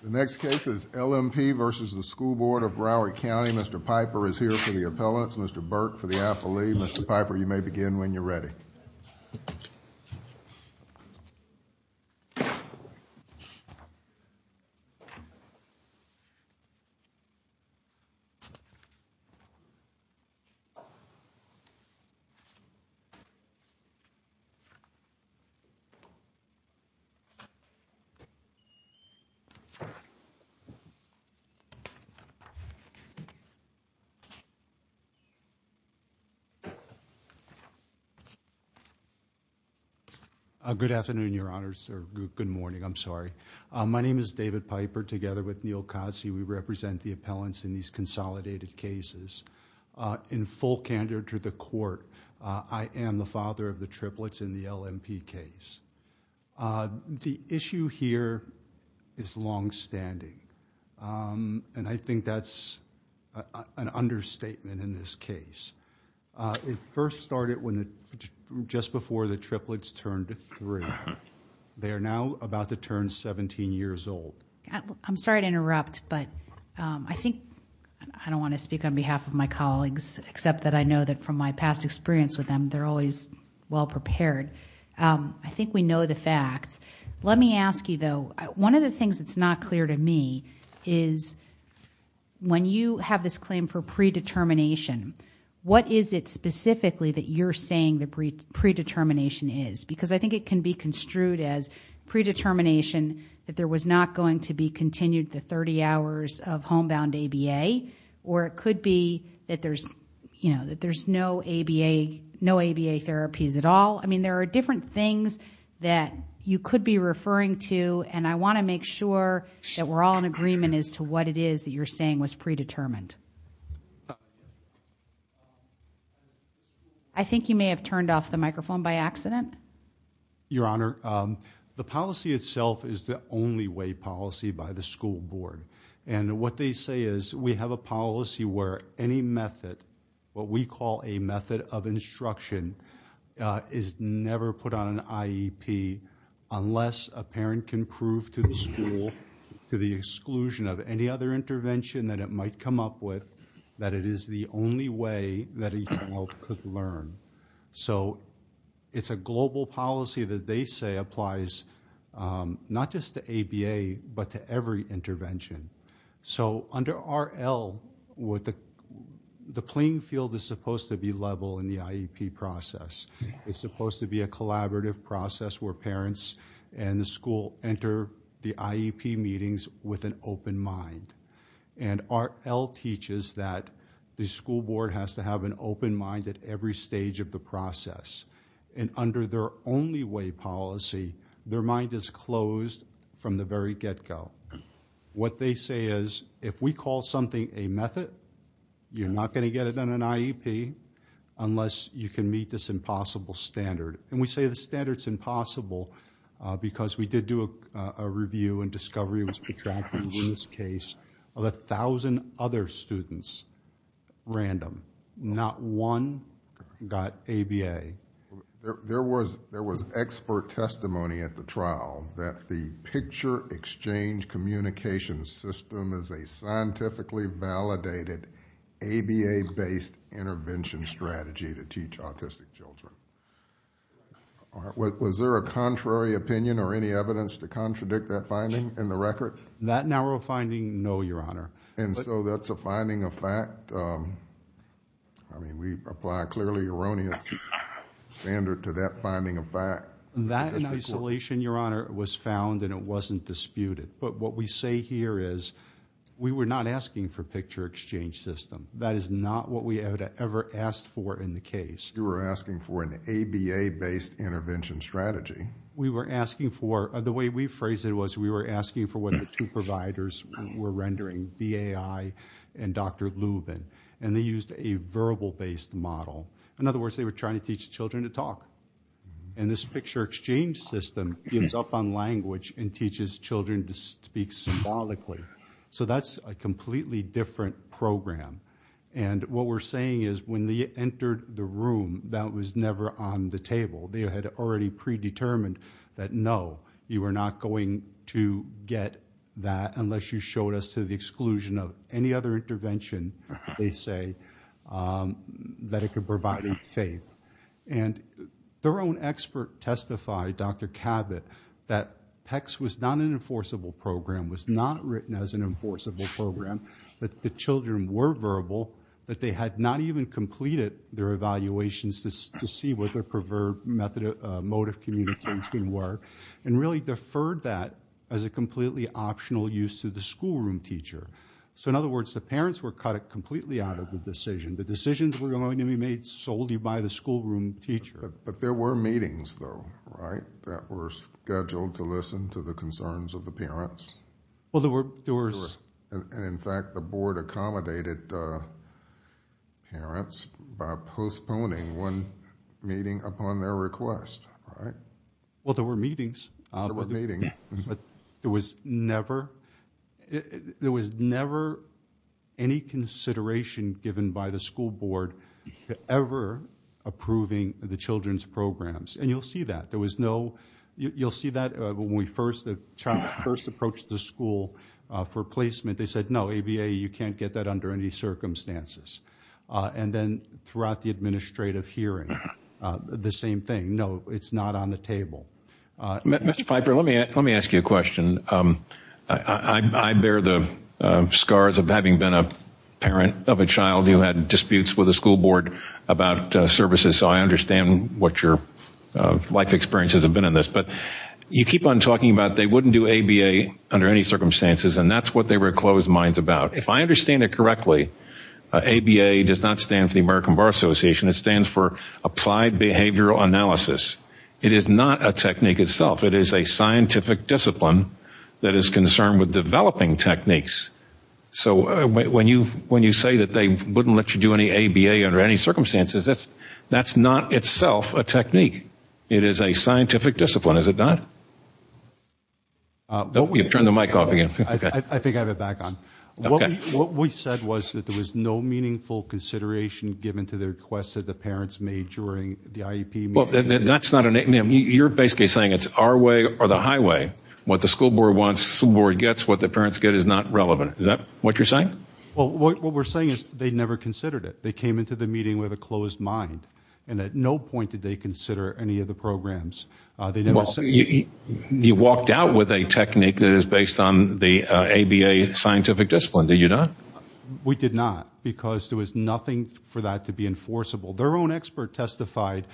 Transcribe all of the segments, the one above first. The next case is L.M.P. v. School Board of Broward County. Mr. Piper is here for the record. Good afternoon, Your Honors, or good morning, I'm sorry. My name is David Piper. Together with Neal Cossie, we represent the appellants in these consolidated cases. In full candor to the Court, I am the father of the triplets in the L.M.P. case. The issue here is longstanding. I think that's an understatement in this case. It first started just before the triplets turned three. They are now about to turn 17 years old. I'm sorry to interrupt, but I don't want to speak on behalf of my colleagues, except that I know that from my past experience with them, they're always well-prepared. I think we know the facts. Let me ask you, though, one of the things that's not clear to me is when you have this predetermination, what is it specifically that you're saying the predetermination is? Because I think it can be construed as predetermination that there was not going to be continued the 30 hours of homebound ABA, or it could be that there's no ABA therapies at all. I mean, there are different things that you could be referring to, and I want to make sure that we're all in agreement as to what it is that you're saying was predetermined. I think you may have turned off the microphone by accident. Your Honor, the policy itself is the only way policy by the school board, and what they say is we have a policy where any method, what we call a method of instruction, is never put on an IEP unless a parent can prove to the school, to the exclusion of any other intervention that it might come up with, that it is the only way that each child could learn. So it's a global policy that they say applies not just to ABA, but to every intervention. So under RL, the playing field is supposed to be level in the IEP process. It's supposed to be a collaborative process where parents and the school enter the IEP meetings with an open mind, and RL teaches that the school board has to have an open mind at every stage of the process, and under their only way policy, their mind is closed from the very get-go. What they say is if we call something a method, you're not going to get it on an IEP unless you can meet this impossible standard, and we say the standard's impossible because we did do a review and discovery, it was exactly in this case, of a thousand other students random. Not one got ABA. There was expert testimony at the trial that the picture exchange communication system is a scientifically validated ABA-based intervention strategy to teach autistic children. Was there a contrary opinion or any evidence to contradict that finding in the record? That narrow finding, no, Your Honor. And so that's a finding of fact? I mean, we apply a clearly erroneous standard to that finding of fact. That in isolation, Your Honor, was found and it wasn't disputed. But what we say here is we were not asking for a picture exchange system. That is not what we ever asked for in the case. You were asking for an ABA-based intervention strategy? We were asking for, the way we phrased it was we were asking for what the two providers were rendering, BAI and Dr. Lubin, and they used a verbal-based model. In other words, they were trying to teach children to talk. And this picture exchange system gives up on language and teaches children to speak symbolically. So that's a completely different program. And what we're saying is when they entered the room, that was never on the table. They had already predetermined that, no, you were not going to get that unless you showed us to the exclusion of any other intervention, they say, that it could provide faith. And their own expert testified, Dr. Cabot, that PECS was not an enforceable program, was not written as an enforceable program, that the children were verbal, that they had not even completed their evaluations to see what their preferred mode of communication were, and really deferred that as a completely optional use to the schoolroom teacher. So in other words, the parents were cut completely out of the decision. The decisions were going to be made solely by the schoolroom teacher. But there were meetings, though, right, that were scheduled to listen to the concerns of the parents? Well, there were. And, in fact, the board accommodated the parents by postponing one meeting upon their request, Well, there were meetings. There were meetings. But there was never any consideration given by the school board ever approving the children's programs. And you'll see that. There was no, you'll see that when we first, when we first approached the school for placement, they said, no, ABA, you can't get that under any circumstances. And then throughout the administrative hearing, the same thing, no, it's not on the table. Mr. Piper, let me, let me ask you a question. I bear the scars of having been a parent of a child who had disputes with the school board about services. So I understand what your life experiences have been in this. But you keep on talking about they wouldn't do ABA under any circumstances. And that's what they were closed minds about. If I understand it correctly, ABA does not stand for the American Bar Association. It stands for Applied Behavioral Analysis. It is not a technique itself. It is a scientific discipline that is concerned with developing techniques. So when you, when you say that they wouldn't let you do any ABA under any circumstances, that's, that's not itself a technique. It is a scientific discipline, is it not? You've turned the mic off again. I think I have it back on. What we said was that there was no meaningful consideration given to the requests that the parents made during the IEP meetings. Well, that's not a, you're basically saying it's our way or the highway. What the school board wants, school board gets, what the parents get is not relevant. Is that what you're saying? Well, what we're saying is they never considered it. They came into the meeting with a closed mind. And at no point did they consider any of the programs. You walked out with a technique that is based on the ABA scientific discipline. Did you not? We did not. Because there was nothing for that to be enforceable. Their own expert testified,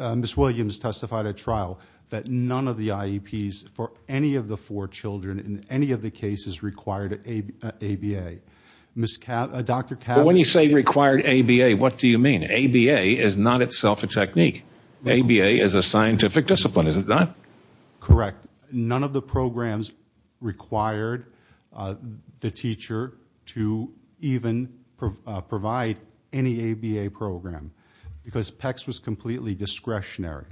Ms. Williams testified at trial, that none of the IEPs for any of the four children in any of the cases required ABA. Dr. Cavanagh... But when you say required ABA, what do you mean? ABA is not itself a technique. ABA is a scientific discipline, is it not? Correct. None of the programs required the teacher to even provide any ABA program. Because PECS was completely discretionary.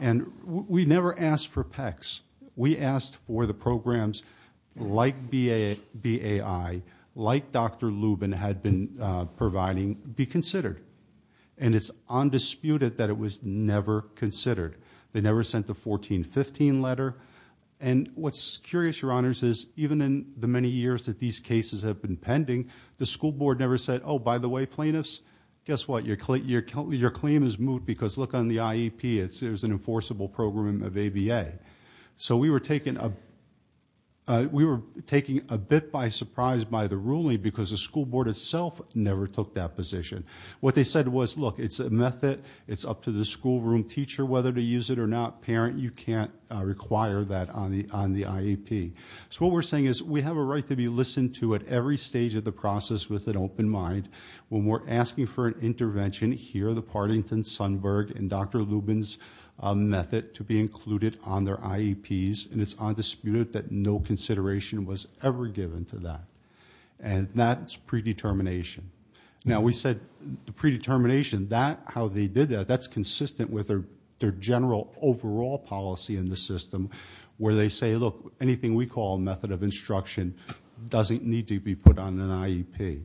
And we never asked for PECS. We asked for the programs like BAI, like Dr. Lubin had been providing, be considered. And it's undisputed that it was never considered. They never sent the 1415 letter. And what's curious, Your Honors, is even in the many years that these cases have been pending, the school board never said, Oh, by the way, plaintiffs, guess what? Your claim is moved because look on the IEP. There's an enforceable program of ABA. So we were taken a bit by surprise by the ruling because the school board itself never took that position. What they said was, look, it's a method. It's up to the schoolroom teacher whether to use it or not. Parent, you can't require that on the IEP. So what we're saying is we have a right to be listened to at every stage of the process with an open mind. When we're asking for an intervention, hear the Partington, Sundberg, and Dr. Lubin's method to be included on their IEPs. And it's undisputed that no consideration was ever given to that. And that's predetermination. Now, we said the predetermination, how they did that, that's consistent with their general overall policy in the system where they say, look, anything we call a method of instruction doesn't need to be put on an IEP.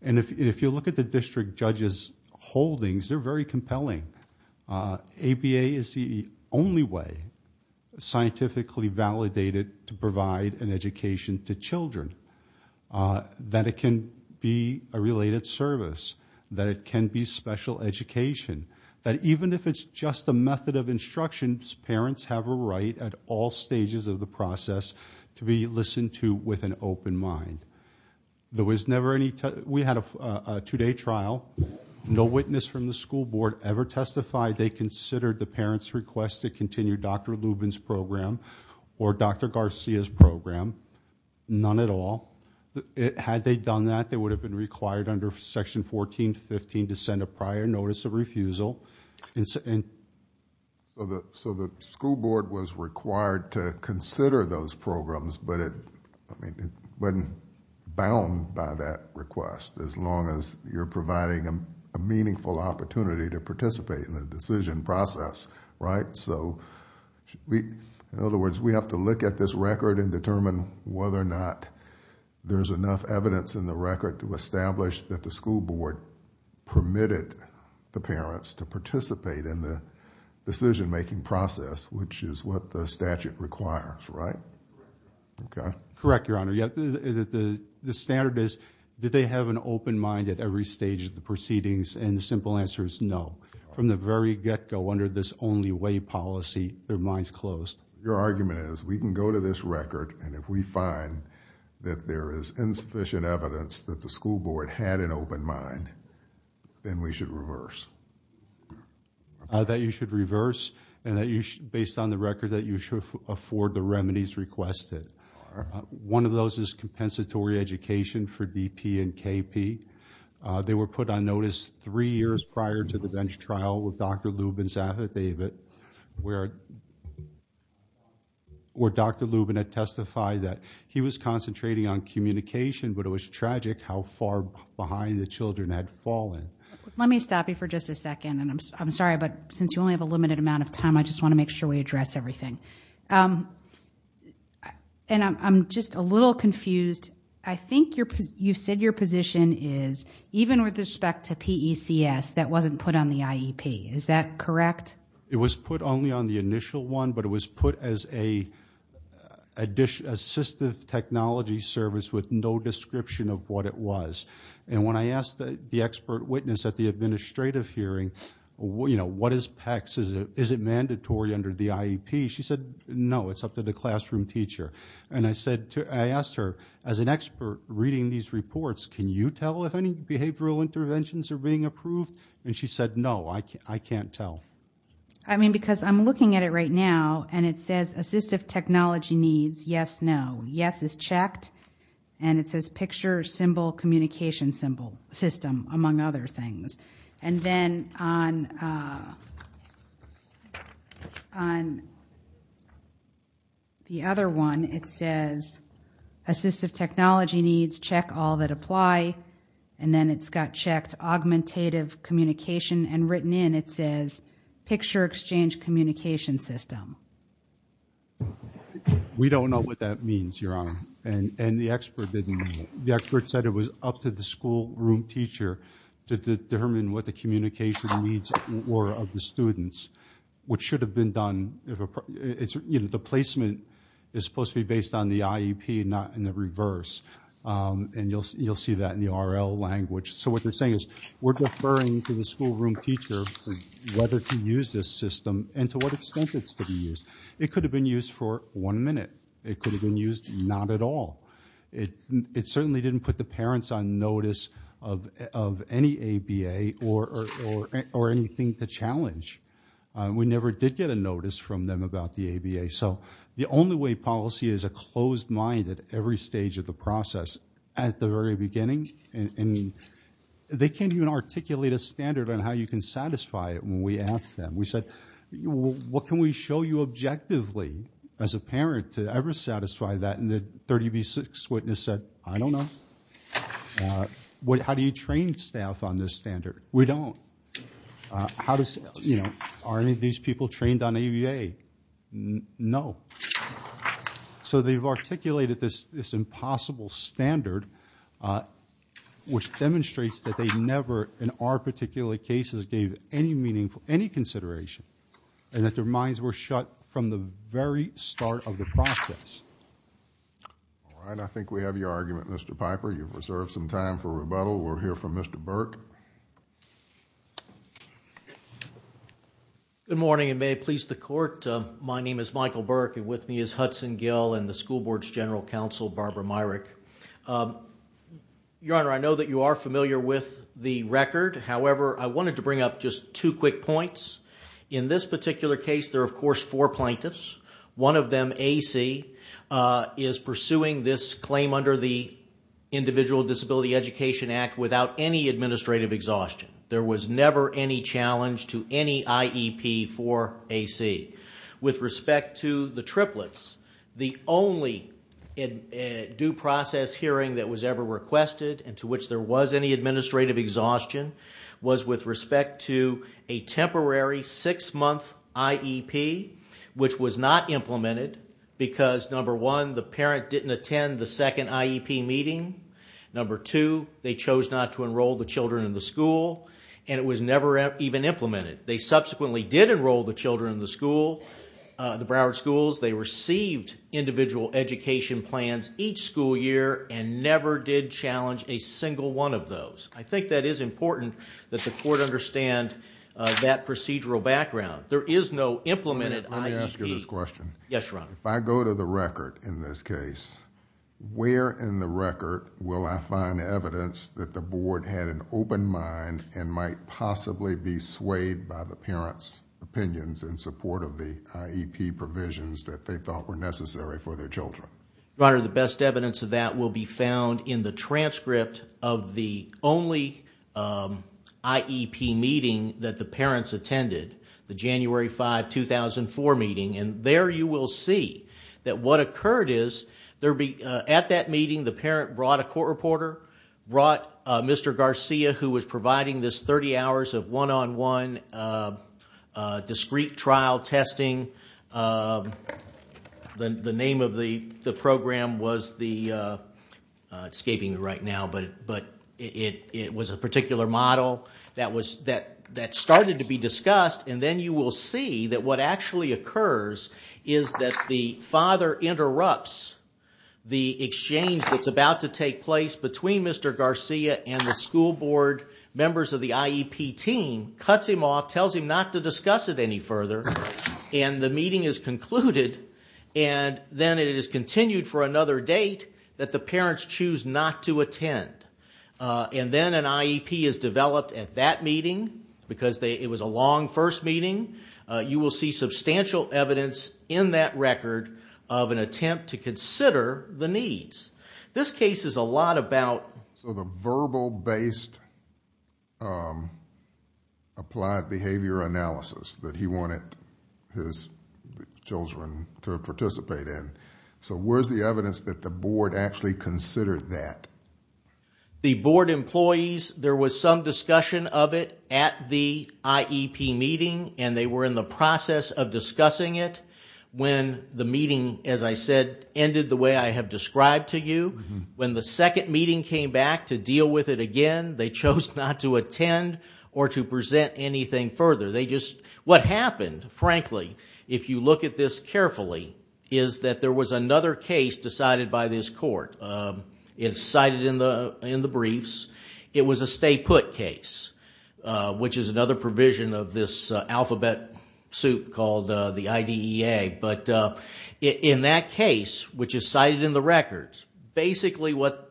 And if you look at the district judge's holdings, they're very compelling. ABA is the only way scientifically validated to provide an education to children, that it can be a related service, that it can be special education, that even if it's just a method of instruction, parents have a right at all stages of the process to be listened to with an open mind. There was never any... We had a two-day trial. No witness from the school board ever testified they considered the parents' request to continue Dr. Lubin's program or Dr. Garcia's program. None at all. Had they done that, they would have been required under section 14-15 to send a prior notice of refusal. So the school board was required to consider those programs, but it wasn't bound by that request, as long as you're providing a meaningful opportunity to participate in the decision process, right? So, in other words, we have to look at this record and determine whether or not there's enough evidence in the record to establish that the school board permitted the parents to participate in the decision-making process, which is what the statute requires, right? Correct, Your Honor. The standard is, did they have an open mind at every stage of the proceedings? And the simple answer is no. From the very get-go, under this only-way policy, their mind's closed. Your argument is, we can go to this record, and if we find that there is insufficient evidence that the school board had an open mind, then we should reverse. That you should reverse, and based on the record, that you should afford the remedies requested. One of those is compensatory education for DP and KP. They were put on notice three years prior to the bench trial with Dr. Lubin's affidavit, where Dr. Lubin had testified that he was concentrating on communication, but it was tragic how far behind the children had fallen. Let me stop you for just a second, and I'm sorry, but since you only have a limited amount of time, I just want to make sure we address everything. And I'm just a little confused. I think you said your position is, even with respect to PECS, that wasn't put on the IEP. Is that correct? It was put only on the initial one, but it was put as an assistive technology service with no description of what it was. And when I asked the expert witness at the administrative hearing, what is PECS, is it mandatory under the IEP? She said, no, it's up to the classroom teacher. And I asked her, as an expert reading these reports, can you tell if any behavioral interventions are being approved? And she said, no, I can't tell. I mean, because I'm looking at it right now, and it says assistive technology needs, yes, no. Yes is checked, and it says picture, symbol, communication system, among other things. And then on the other one, it says assistive technology needs, check all that apply. And then it's got checked, augmentative communication. And written in, it says picture, exchange, communication system. We don't know what that means, Your Honor. And the expert didn't know. The expert said it was up to the schoolroom teacher to determine what the communication needs were of the students, which should have been done. The placement is supposed to be based on the IEP not in the reverse. And you'll see that in the RL language. So what they're saying is, we're deferring to the schoolroom teacher whether to use this system, and to what extent it's to be used. It could have been used for one minute. It could have been used not at all. It certainly didn't put the parents on notice of any ABA or anything to challenge. We never did get a notice from them about the ABA. So the only way policy is a closed mind at every stage of the process, at the very beginning. And they can't even articulate a standard on how you can satisfy it when we ask them. We said, what can we show you objectively as a parent to ever satisfy that? And the 30B6 witness said, I don't know. How do you train staff on this standard? We don't. Are any of these people trained on ABA? No. So they've articulated this impossible standard which demonstrates that they never in our particular cases gave any consideration. And that their minds were shut from the very start of the process. All right, I think we have your argument, Mr. Piper. You've reserved some time for rebuttal. We'll hear from Mr. Burke. Good morning and may it please the Court. My name is Michael Burke. With me is Hudson Gill and the School Board's General Counsel Barbara Myrick. Your Honor, I know that you are familiar with the record. However, I wanted to bring up just two quick points. In this particular case, there are of course four plaintiffs. One of them, AC, is pursuing this claim under the Individual Disability Education Act without any administrative exhaustion. There was never any challenge to any IEP for AC. With respect to the triplets, the only due process hearing that was ever requested and to which there was any administrative exhaustion was with respect to a temporary six-month IEP which was not implemented because number one, the parent didn't attend the second IEP meeting. Number two, they chose not to enroll the children in the school and it was never even implemented. They subsequently did enroll the children in the school, the Broward schools. They received individual education plans each school year and never did challenge a single one of those. I think that is important that the Court understand that procedural background. Let me ask you this question. If I go to the record in this case, where in the record will I find evidence that the Board had an open mind and might possibly be swayed by the parent's opinions in support of the IEP provisions that they thought were necessary for their children? The best evidence of that will be found in the transcript of the only IEP meeting that the parents attended, the January 5, 2004 meeting. There you will see that what occurred is at that meeting the parent brought a court reporter, brought Mr. Garcia, who was providing this 30 hours of one-on-one discrete trial testing. The name of the program was a particular model that started to be discussed, and then you will see that what actually occurs is that the father interrupts the exchange that's about to take place between Mr. Garcia and the school board members of the IEP team, cuts him off, tells him not to discuss it any further, and the meeting is concluded, and then it is continued for another date that the parents choose not to attend. And then an IEP is developed at that meeting because it was a long first meeting. You will see substantial evidence in that record of an attempt to consider the needs. This case is a lot about... So the verbal-based applied behavior analysis that he wanted his children to participate in. So where is the evidence that the board actually considered that? The board employees, there was some discussion of it at the IEP meeting, and they were in the process of discussing it when the meeting, as I said, ended the way I have described to you. When the second meeting came back to deal with it again, they chose not to attend or to present anything further. They just... What happened, frankly, if you look at this carefully, is that there was another case decided by this court. It's cited in the briefs. It was a stay-put case, which is another provision of this alphabet suit called the IDEA. In that case, which is cited in the records, basically what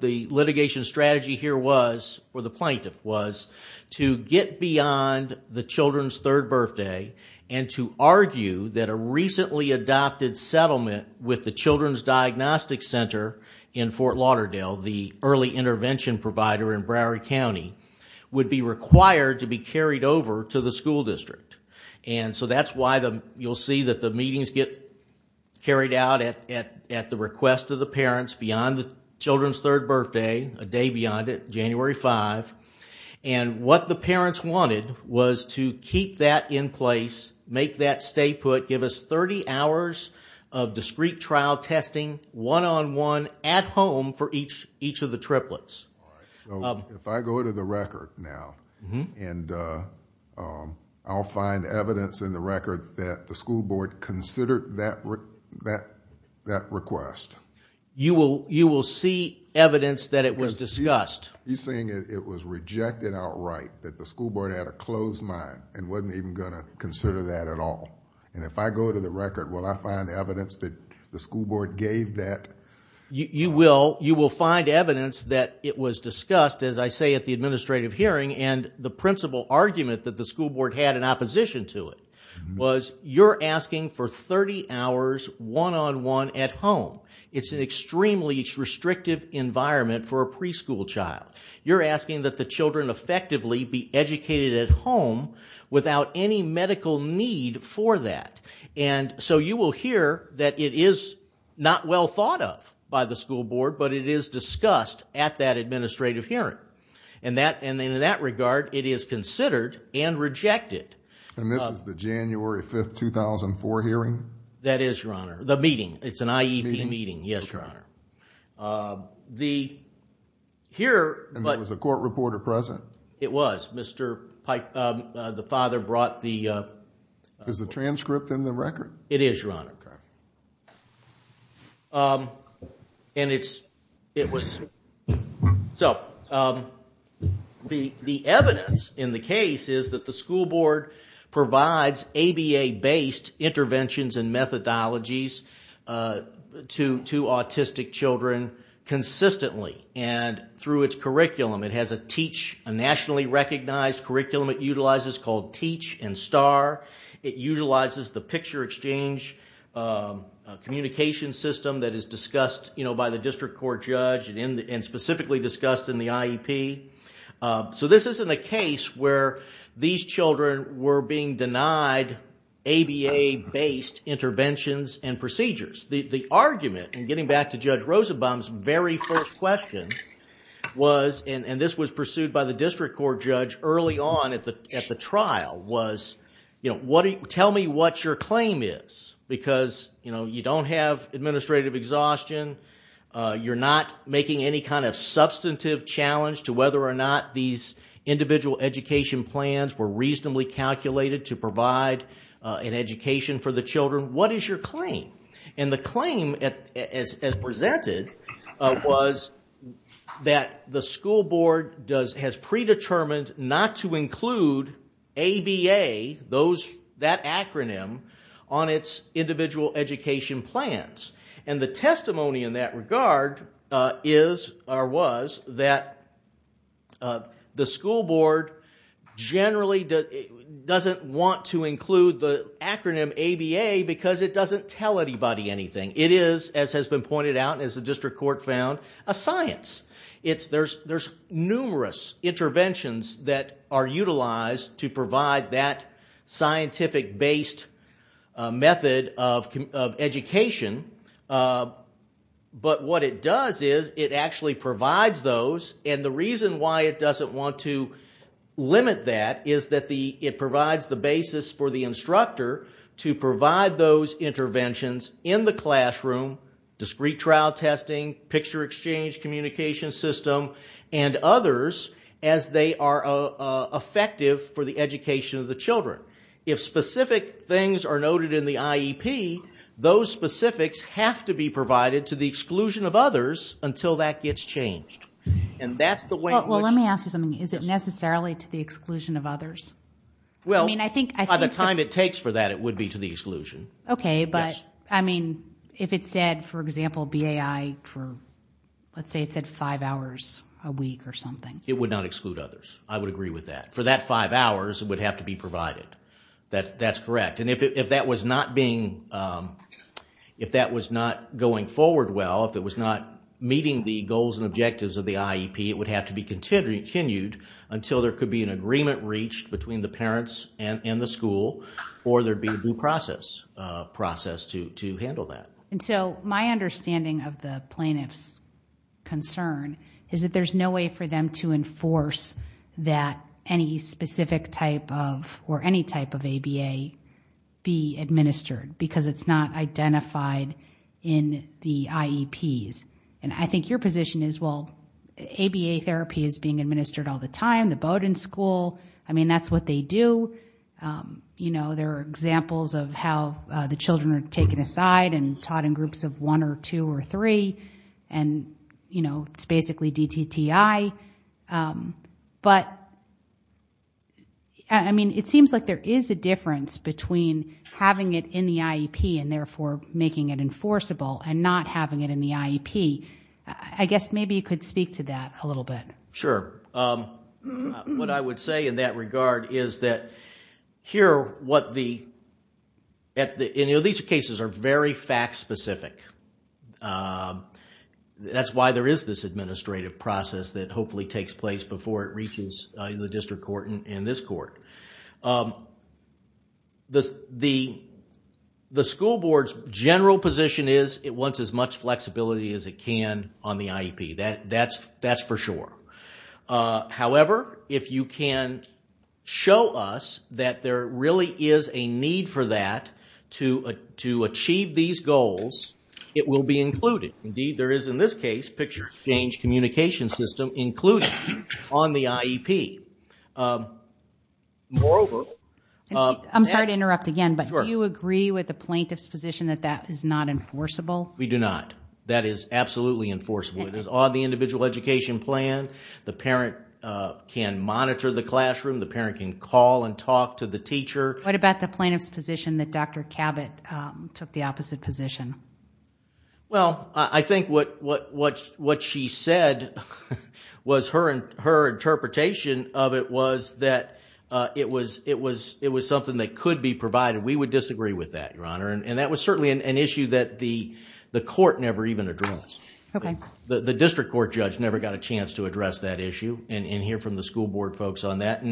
the litigation strategy here was, or the plaintiff was, to get beyond the children's third birthday and to argue that a recently adopted settlement with the Children's Diagnostic Center in Fort Lauderdale, the early intervention provider in Broward County, would be required to be carried over to the school district. That's why you'll see that the meetings get carried out at the request of the parents beyond the children's third birthday, a day beyond it, January 5. What the parents wanted was to keep that in place, make that stay-put, give us 30 hours of discrete trial testing, one-on-one, at home for each of the triplets. If I go to the record now, I'll find evidence in the record that the school board considered that request. You will see evidence that it was discussed? He's saying it was rejected outright, that the school board had a closed mind and wasn't even going to consider that at all. If I go to the record, will I find evidence that the school board gave that? You will find evidence that it was discussed, as I say at the administrative hearing, and the principal argument that the school board had in opposition to it was, you're asking for 30 hours one-on-one at home. It's an extremely restrictive environment for a preschool child. You're asking that the children effectively be educated at home without any medical need for that. You will hear that it is not well thought of by the school board, but it is discussed at that administrative hearing. In that regard, it is considered and rejected. This is the January 5, 2004 hearing? That is, Your Honor. The meeting. It's an IEP meeting, yes, Your Honor. There was a court reporter present? It was. The father brought the... Is the transcript in the record? It is, Your Honor. The evidence in the case is that the school board provides ABA-based interventions and methodologies to autistic children consistently, and through its curriculum. It has a nationally recognized curriculum it utilizes called TEACH and STAR. It utilizes the picture exchange communication system that is discussed by the District Court Judge and specifically discussed in the IEP. This isn't a case where these children were being denied ABA-based interventions and procedures. The argument, getting back to Judge Rosenbaum's very first question, and this was pursued by the District Court Judge early on at the trial, was tell me what your claim is. You don't have administrative exhaustion. You're not making any kind of substantive challenge to whether or not these individual education plans were reasonably calculated to provide an education for the children. What is your claim? The claim, as presented, was that the school board has predetermined not to include ABA that acronym, on its individual education plans. The testimony in that regard was that the school board generally doesn't want to include the acronym ABA because it doesn't tell anybody anything. It is, as has been pointed out, a science. There's numerous interventions that are utilized to provide that scientific-based method of education. But what it does is it actually provides those and the reason why it doesn't want to limit that is that it provides the basis for the instructor to provide those interventions in the classroom, discrete trial testing, picture exchange, communication system, and others as they are effective for the education of the children. If specific things are noted in the IEP, those specifics have to be provided to the exclusion of others until that gets changed. Let me ask you something. Is it necessarily to the exclusion of others? By the time it takes for that, it would be to the exclusion. If it said, for example, BAI, let's say it said five hours a week or something. It would not exclude others. I would agree with that. For that five hours, it would have to be provided. If that was not going forward well, if it was not meeting the goals and objectives of the IEP, it would have to be continued until there could be an agreement reached between the parents and the school or there'd be a due process to handle that. My understanding of the plaintiff's concern is that there's no way for them to enforce that any specific type of or any type of ABA be administered because it's not in the IEPs. I think your position is, well, ABA therapy is being administered all the time, the Bowdoin school. That's what they do. There are examples of how the children are taken aside and taught in groups of one or two or three and it's basically DTTI. It seems like there is a difference between having it in the IEP and therefore making it in the IEP. I guess maybe you could speak to that a little bit. Sure. What I would say in that regard is that these cases are very fact specific. That's why there is this administrative process that hopefully takes place before it reaches the district court and this court. The school board's general position is it wants as much flexibility as it can on the IEP. That's for sure. However, if you can show us that there really is a need for that to achieve these goals, it will be included. Indeed, there is in this case picture exchange communication system included on the IEP. Moreover... I'm sorry to interrupt again, but do you agree with the plaintiff's position that that is not enforceable? We do not. That is absolutely enforceable. It is on the individual education plan. The parent can monitor the classroom. The parent can call and talk to the teacher. What about the plaintiff's position that Dr. Cabot took the opposite position? Well, I think what she said was her interpretation of it was that it was something that could be provided. We would disagree with that, Your Honor. That was certainly an issue that the court never even addressed. The district court judge never got a chance to address that issue and hear from the school board folks on that.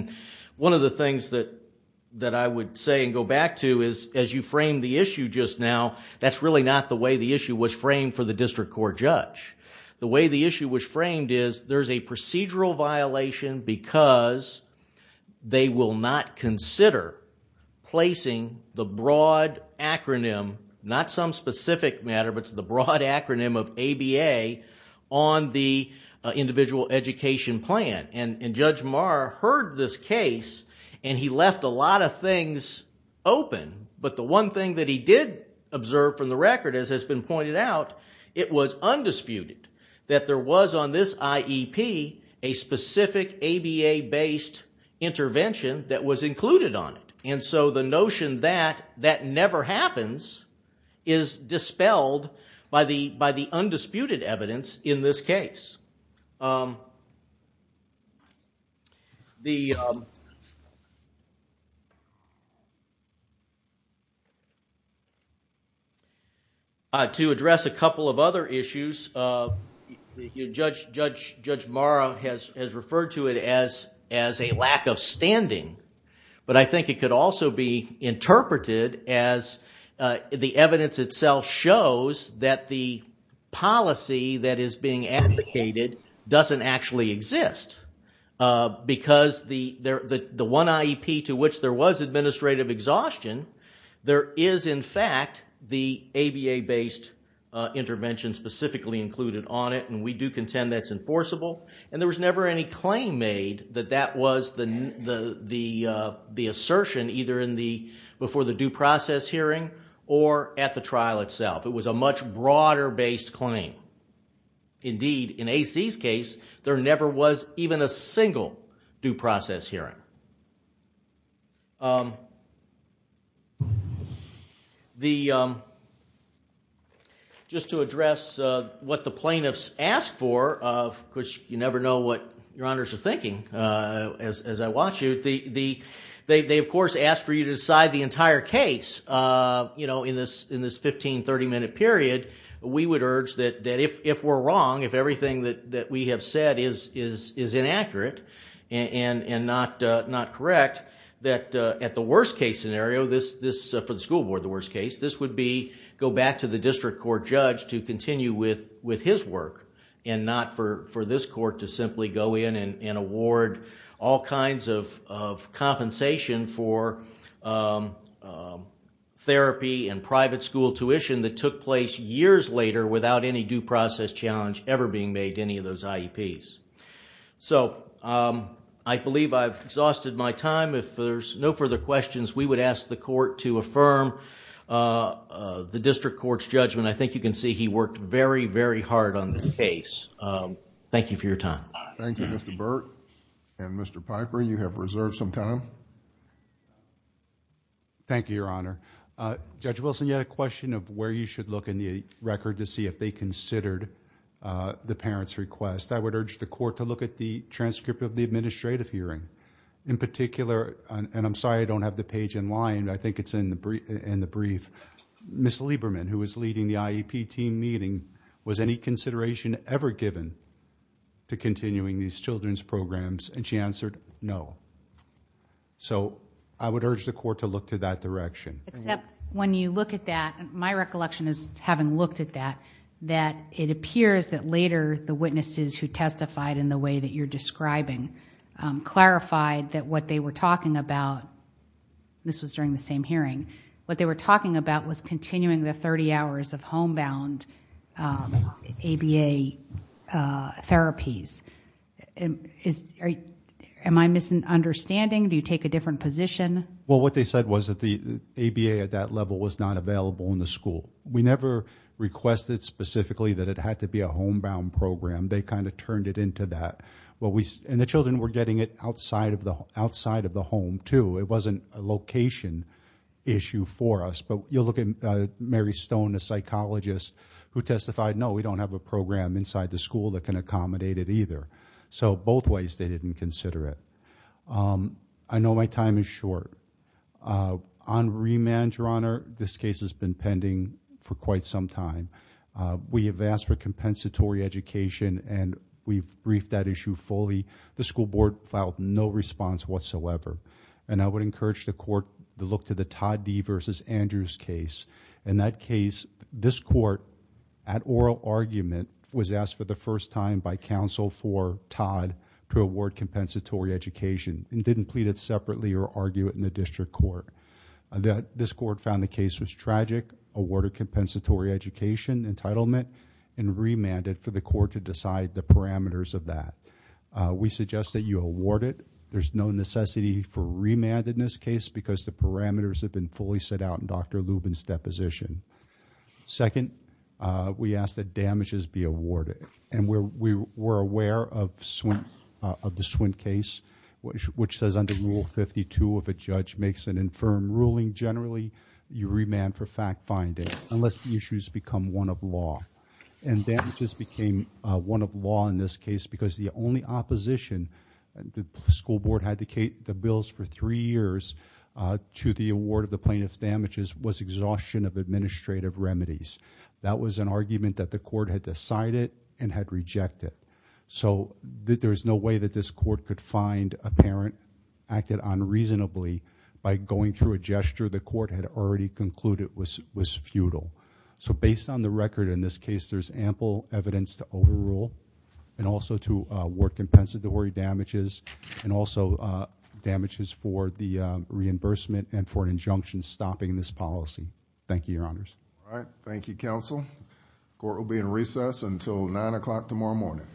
One of the things that I would say and go back to is as you frame the issue just now, that's really not the way the issue was framed for the district court judge. The way the issue was framed is there's a procedural violation because they will not consider placing the broad acronym, not some specific matter, but the broad acronym of ABA on the individual education plan. And Judge Maher heard this case and he left a lot of things open. But the one thing that he did observe from the record, as has been pointed out, it was undisputed that there was on this IEP a specific ABA-based intervention that was included on it. And so the notion that that never happens is dispelled by the undisputed evidence in this case. To address a couple of other issues, Judge Maher has referred to it as a lack of standing. But I think it could also be interpreted as the evidence itself shows that the policy that is being advocated doesn't actually exist. Because the one IEP to which there was administrative exhaustion, there is in fact the ABA-based intervention specifically included on it and we do contend that's enforceable. And there was never any claim made that that was the assertion either before the due process hearing or at the trial itself. It was a much broader-based claim. Indeed, in AC's case, there never was even a single due process hearing. Just to address what the plaintiffs asked for, because you never know what your honors are thinking as I watch you, they of course asked for you to decide the entire case in this 15-30 minute period. We would urge that if we're wrong, if everything that we have said is inaccurate and not correct, that at the worst case scenario, for the school board the worst case, this would go back to the district court judge to continue with his work and not for this court to simply go in and award all kinds of compensation for therapy and private school tuition that took place years later without any due process challenge ever being made to any of those IEPs. I believe I've exhausted my time. If there's no further questions, we would ask the court to affirm the district court's judgment. I think you can see he worked very, very hard on this case. Thank you for your time. Thank you, Mr. Burt and Mr. Piper. You have reserved some time. Thank you, Your Honor. Judge Wilson, you had a question of where you should look in the record to see if they considered the parent's request. I would urge the court to look at the transcript of the administrative hearing. In particular, and I'm sorry I don't have the page in line, I think it's in the brief. Ms. Lieberman, who was leading the IEP team meeting, was any consideration ever given to continuing these children's programs? She answered no. I would urge the court to look to that direction. Except when you look at that, my recollection is having looked at that, that it appears that later the witnesses who testified in the way that you're describing clarified that what they were talking about, this was during the same hearing, what they were talking about was continuing the 30 hours of homebound ABA therapies. Am I misunderstanding? Do you take a different position? Well, what they said was that the ABA at that level was not available in the school. We never requested specifically that it had to be a homebound program. They kind of turned it into that. And the children were getting it outside of the home, too. It wasn't a location issue for us. But you look at Mary Stone, a psychologist, who testified, no, we don't have a program inside the school that can accommodate it either. So both ways they didn't consider it. I know my time is short. On remand, Your Honor, this case has been pending for quite some time. We have asked for compensatory education and we've briefed that issue fully. The school board filed no response whatsoever. And I would encourage the court to look to the Todd D. v. Andrews case. In that case, this court, at oral argument, was asked for the first time by counsel for Todd to award compensatory education and didn't plead it separately or argue it in the district court. This court found the case was tragic, awarded compensatory education, entitlement, and remanded for the court to decide the parameters of that. We suggest that you award it. There's no necessity for remand in this case because the parameters have been fully set out in Dr. Lubin's deposition. Second, we ask that damages be awarded. And we're aware of the Swint case, which says under Rule 52, if a judge makes an infirm ruling generally, you remand for fact-finding unless the issues become one of law. And damages became one of law in this case because the only opposition, and the school board had the bills for 3 years to the award of the plaintiff's damages was exhaustion of administrative remedies. That was an argument that the court had decided and had rejected. So there's no way that this court could find a parent acted unreasonably by going through a gesture the court had already concluded was futile. So based on the record in this case, there's ample evidence to overrule and also to award compensatory damages and also damages for the reimbursement and for an injunction stopping this policy. Thank you, Your Honors. Court will be in recess until 9 o'clock tomorrow morning.